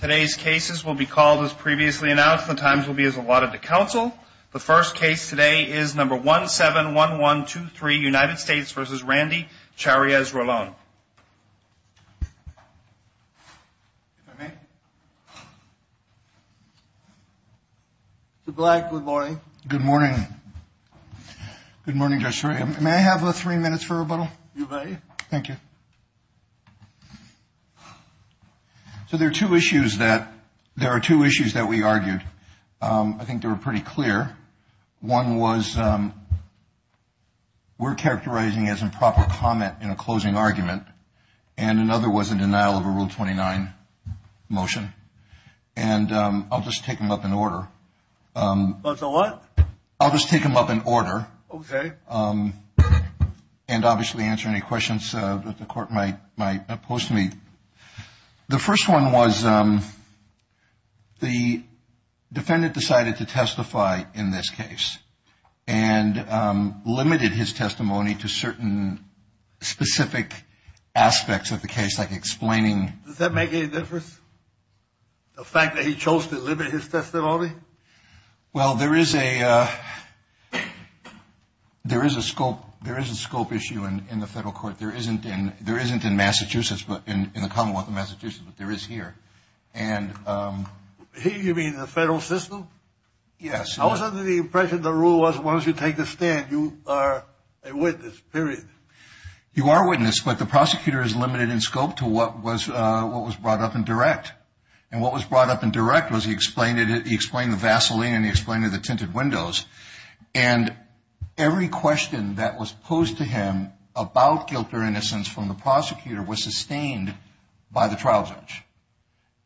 Today's cases will be called as previously announced. The times will be as allotted to counsel. The first case today is number 171123 United States v. Randy Charriez-Rolon. Good morning. Good morning, Judge Schroeder. May I have your attention, please? There are two issues that we argued. I think they were pretty clear. One was we're characterizing as improper comment in a closing argument, and another was a denial of a Rule 29 motion. And I'll just take them up in order. What's the what? I'll just take them up in order. Okay. And obviously answer any questions that the defendant decided to testify in this case and limited his testimony to certain specific aspects of the case, like explaining. Does that make any difference? The fact that he chose to limit his testimony? Well, there is a scope issue in the federal system here. You mean the federal system? Yes. I was under the impression the rule was once you take the stand, you are a witness, period. You are a witness, but the prosecutor is limited in scope to what was brought up in direct. And what was brought up in direct was he explained the Vaseline and he explained the tinted windows. And every question that was posed to him about guilt or innocence from the prosecutor was sustained by the trial judge.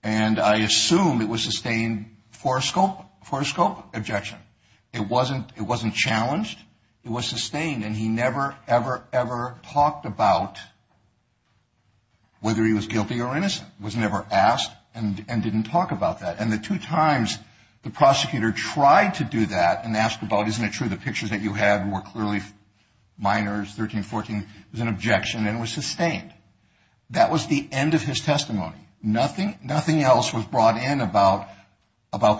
And I assume it was sustained for a scope objection. It wasn't challenged. It was sustained. And he never, ever, ever talked about whether he was guilty or innocent. He was never asked and didn't talk about that. And the two times the prosecutor tried to do that and asked about isn't it true the pictures that you had were clearly minors, 13, 14, was an objection and was sustained. That was the end of his testimony. Nothing else was brought in about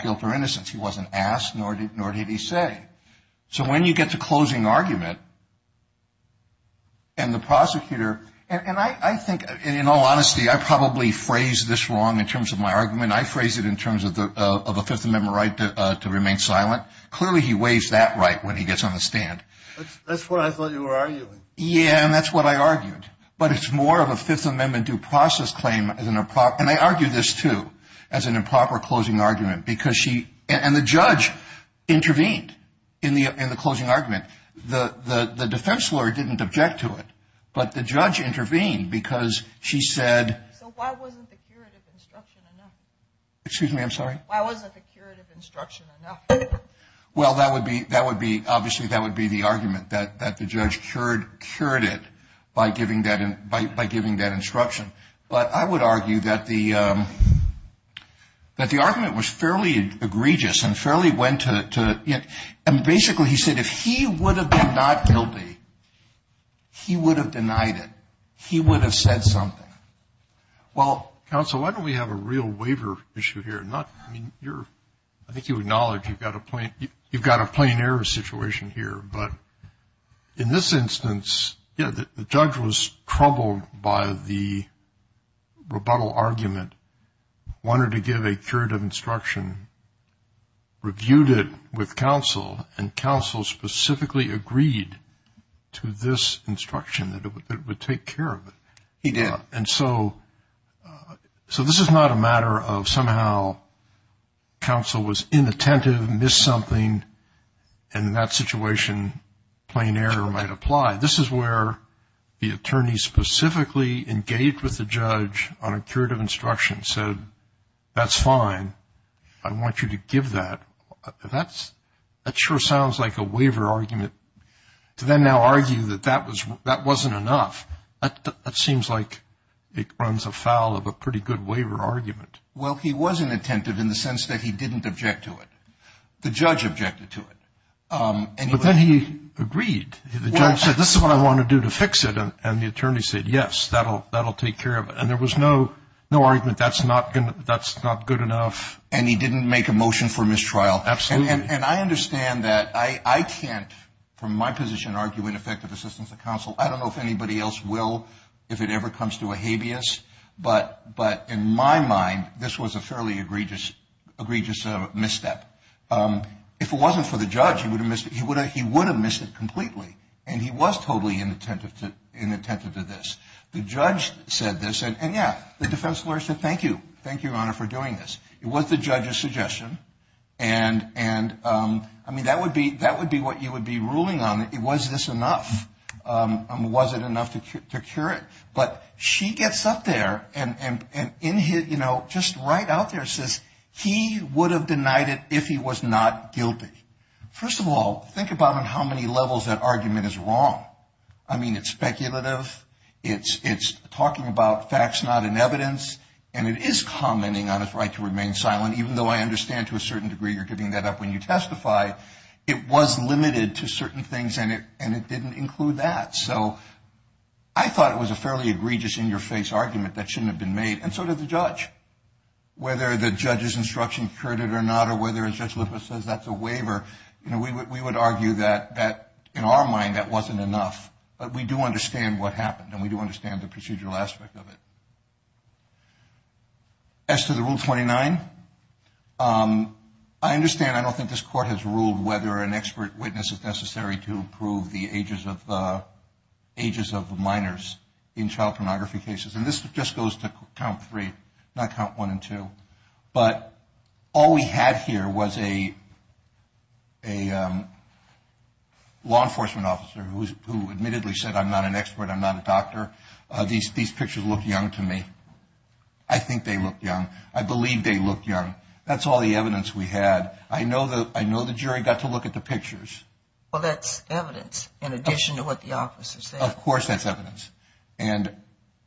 guilt or innocence. He wasn't asked, nor did he say. So when you get to closing argument and the prosecutor, and I think in all honesty, I probably phrased this wrong in terms of my argument. I phrased it in terms of a Fifth Amendment right to remain silent. Clearly he weighs that right when he gets on the stand. That's what I thought you were arguing. Yeah, and that's what I argued. But it's more of a Fifth Amendment due process claim. And I argue this too as an improper closing argument. And the judge intervened in the closing argument. The defense lawyer didn't object to it, but the judge intervened because she said... So why wasn't the curative instruction enough? Excuse me, I'm sorry? Why wasn't the curative instruction enough? Well, obviously that would be the argument, that the judge cured it by giving that instruction. But I would argue that the argument was fairly egregious and fairly went to... And basically he said if he would have been not guilty, he would have denied it. He would have said something. Well, counsel, why don't we have a real waiver issue here? I think you acknowledge you've got a plain error situation here. But in this instance, yeah, the judge was troubled by the rebuttal argument, wanted to give a curative instruction, reviewed it with counsel, and counsel specifically agreed to this instruction that it would take care of it. He did. And so this is not a matter of somehow counsel was inattentive, missed something, and in that situation plain error might apply. This is where the attorney specifically engaged with the judge on a curative instruction, said that's fine, I want you to give that. That sure sounds like a waiver argument to then now argue that that wasn't enough. That seems like it runs afoul of a pretty good waiver argument. Well, he was inattentive in the sense that he didn't object to it. The judge objected to it. But then he agreed. The judge said this is what I want to do to fix it, and the attorney said yes, that'll take care of it. And there was no argument that's not good enough. And he didn't make a motion for mistrial. Absolutely. And I understand that. I can't from my position argue ineffective assistance of counsel. I don't know if anybody else will if it ever comes to a habeas. But in my mind, this was a fairly egregious misstep. If it wasn't for the judge, he would have missed it completely. And he was totally inattentive to this. The judge said this, and, yeah, the defense lawyer said thank you. Thank you, Your Honor, for doing this. It was the judge's suggestion. And, I mean, that would be what you would be ruling on. Was this enough? Was it enough to cure it? But she gets up there and, you know, just right out there says he would have denied it if he was not guilty. First of all, think about on how many levels that argument is wrong. I mean, it's speculative. It's talking about facts not in evidence. And it is commenting on his right to remain silent, even though I understand to a certain degree you're giving that up when you testify. It was limited to certain things, and it didn't include that. So I thought it was a fairly egregious in-your-face argument that shouldn't have been made, and so did the judge. Whether the judge's instruction cured it or not or whether, as Judge Lippert says, that's a waiver, you know, we would argue that, in our mind, that wasn't enough. But we do understand what happened, and we do understand the procedural aspect of it. As to the Rule 29, I understand I don't think this court has ruled whether an expert witness is necessary to prove the ages of minors in child pornography cases. And this just goes to count three, not count one and two. But all we had here was a law enforcement officer who admittedly said, I'm not an expert, I'm not a doctor. These pictures look young to me. I think they look young. I believe they look young. That's all the evidence we had. I know the jury got to look at the pictures. Well, that's evidence in addition to what the officers said. Of course that's evidence. And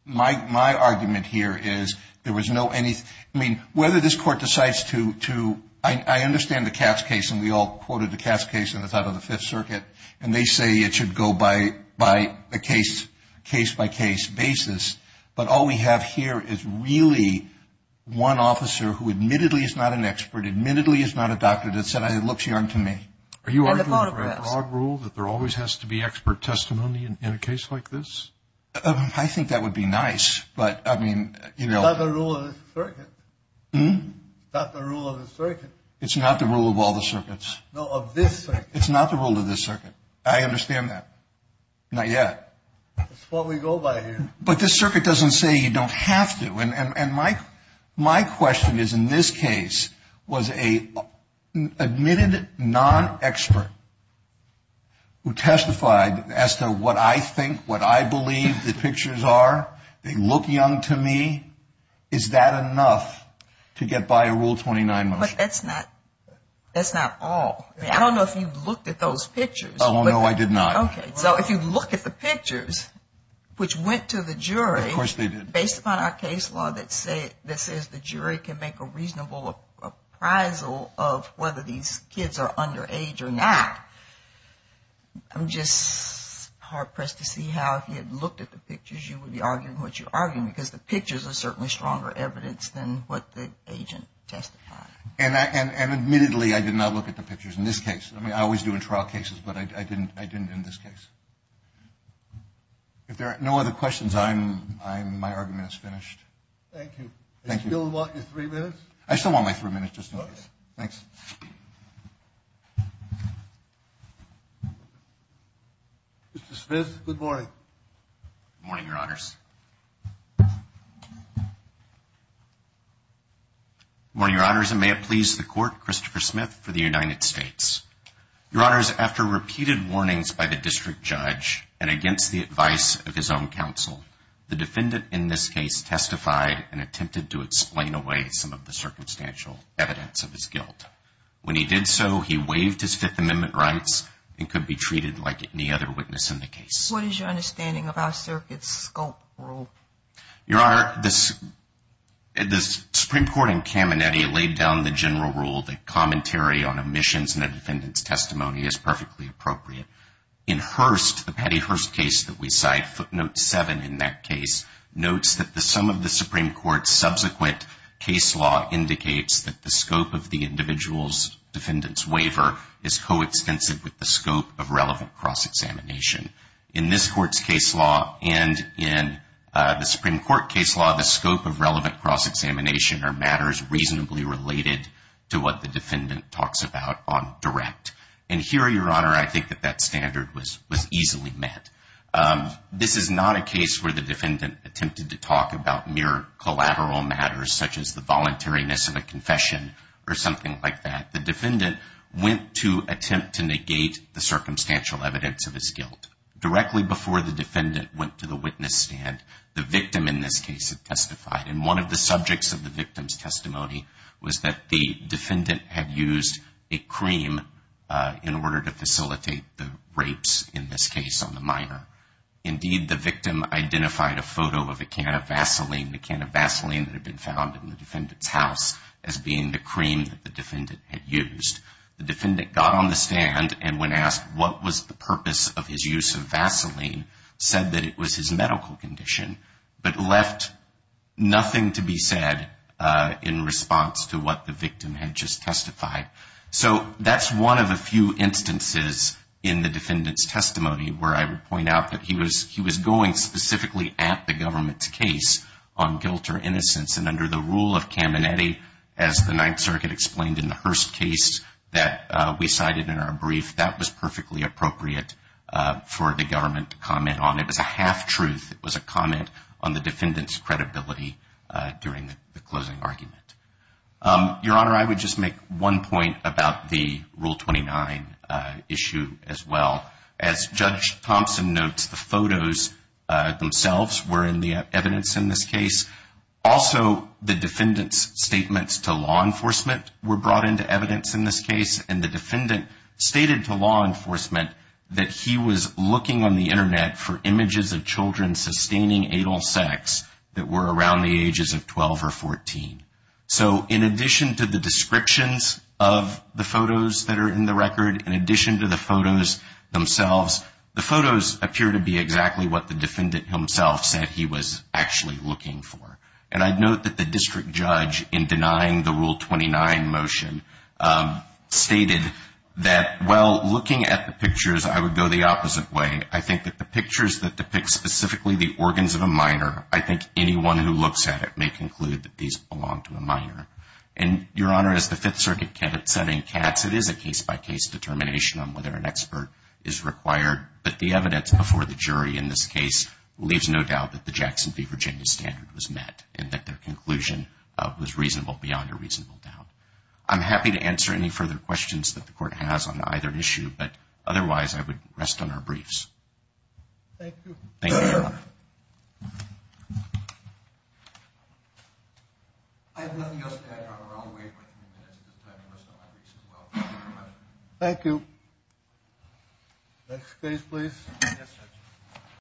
my argument here is there was no any – I mean, whether this court decides to – I understand the Katz case, and we all quoted the Katz case in the top of the Fifth Circuit, and they say it should go by a case-by-case basis. But all we have here is really one officer who admittedly is not an expert, admittedly is not a doctor, that said, it looks young to me. Are you arguing for a broad rule that there always has to be expert testimony in a case like this? I think that would be nice. But, I mean, you know – It's not the rule of the circuit. Hmm? It's not the rule of the circuit. It's not the rule of all the circuits. No, of this circuit. It's not the rule of this circuit. I understand that. Not yet. That's what we go by here. But this circuit doesn't say you don't have to. And my question is, in this case, was an admitted non-expert who testified as to what I think, what I believe the pictures are, they look young to me, is that enough to get by a Rule 29 motion? But that's not all. I don't know if you looked at those pictures. Oh, no, I did not. Okay. So if you look at the pictures, which went to the jury – Of course they did. Based upon our case law that says the jury can make a reasonable appraisal of whether these kids are underage or not, I'm just hard-pressed to see how, if you had looked at the pictures, you would be arguing what you're arguing, because the pictures are certainly stronger evidence than what the agent testified. And admittedly, I did not look at the pictures in this case. I mean, I always do in trial cases, but I didn't in this case. If there are no other questions, my argument is finished. Thank you. Thank you. Do you still want your three minutes? I still want my three minutes, just in case. Okay. Thanks. Mr. Smith, good morning. Good morning, Your Honors. Good morning, Your Honors, and may it please the Court, Christopher Smith for the United States. Your Honors, after repeated warnings by the district judge and against the advice of his own counsel, the defendant in this case testified and attempted to explain away some of the circumstantial evidence of his guilt. When he did so, he waived his Fifth Amendment rights and could be treated like any other witness in the case. What is your understanding of our circuit's scope rule? Your Honor, the Supreme Court in Caminiti laid down the general rule that commentary on omissions in a defendant's testimony is perfectly appropriate. In Hearst, the Patty Hearst case that we cite, footnote 7 in that case, notes that the sum of the Supreme Court's subsequent case law indicates that the scope of the individual's defendant's waiver is coextensive with the scope of relevant cross-examination. In this Court's case law and in the Supreme Court case law, the scope of relevant cross-examination are matters reasonably related to what the defendant talks about on direct. And here, Your Honor, I think that that standard was easily met. This is not a case where the defendant attempted to talk about mere collateral matters, such as the voluntariness of a confession or something like that. The defendant went to attempt to negate the circumstantial evidence of his guilt. Directly before the defendant went to the witness stand, the victim, in this case, had testified. And one of the subjects of the victim's testimony was that the defendant had used a cream in order to facilitate the rapes, in this case, on the minor. Indeed, the victim identified a photo of a can of Vaseline, that had been found in the defendant's house, as being the cream that the defendant had used. The defendant got on the stand and when asked what was the purpose of his use of Vaseline, said that it was his medical condition, but left nothing to be said in response to what the victim had just testified. So that's one of the few instances in the defendant's testimony where I would point out that he was going specifically at the government's case on guilt or innocence. And under the rule of Caminiti, as the Ninth Circuit explained in the Hearst case that we cited in our brief, that was perfectly appropriate for the government to comment on. It was a half-truth. It was a comment on the defendant's credibility during the closing argument. Your Honor, I would just make one point about the Rule 29 issue as well. As Judge Thompson notes, the photos themselves were in the evidence in this case. Also, the defendant's statements to law enforcement were brought into evidence in this case, and the defendant stated to law enforcement that he was looking on the Internet for images of children sustaining adult sex that were around the ages of 12 or 14. So in addition to the descriptions of the photos that are in the record, in addition to the photos themselves, the photos appear to be exactly what the defendant himself said he was actually looking for. And I'd note that the district judge, in denying the Rule 29 motion, stated that while looking at the pictures, I would go the opposite way. I think that the pictures that depict specifically the organs of a minor, I think anyone who looks at it may conclude that these belong to a minor. And, Your Honor, as the Fifth Circuit candidate said in Katz, it is a case-by-case determination on whether an expert is required, but the evidence before the jury in this case leaves no doubt that the Jackson v. Virginia standard was met and that their conclusion was reasonable beyond a reasonable doubt. I'm happy to answer any further questions that the Court has on either issue, but otherwise I would rest on our briefs. Thank you. Thank you, Your Honor. I have nothing else to add, Your Honor. I'll wait for a few minutes at this time to rest on my briefs as well. Thank you, Your Honor. Thank you. Next case, please. Yes, sir.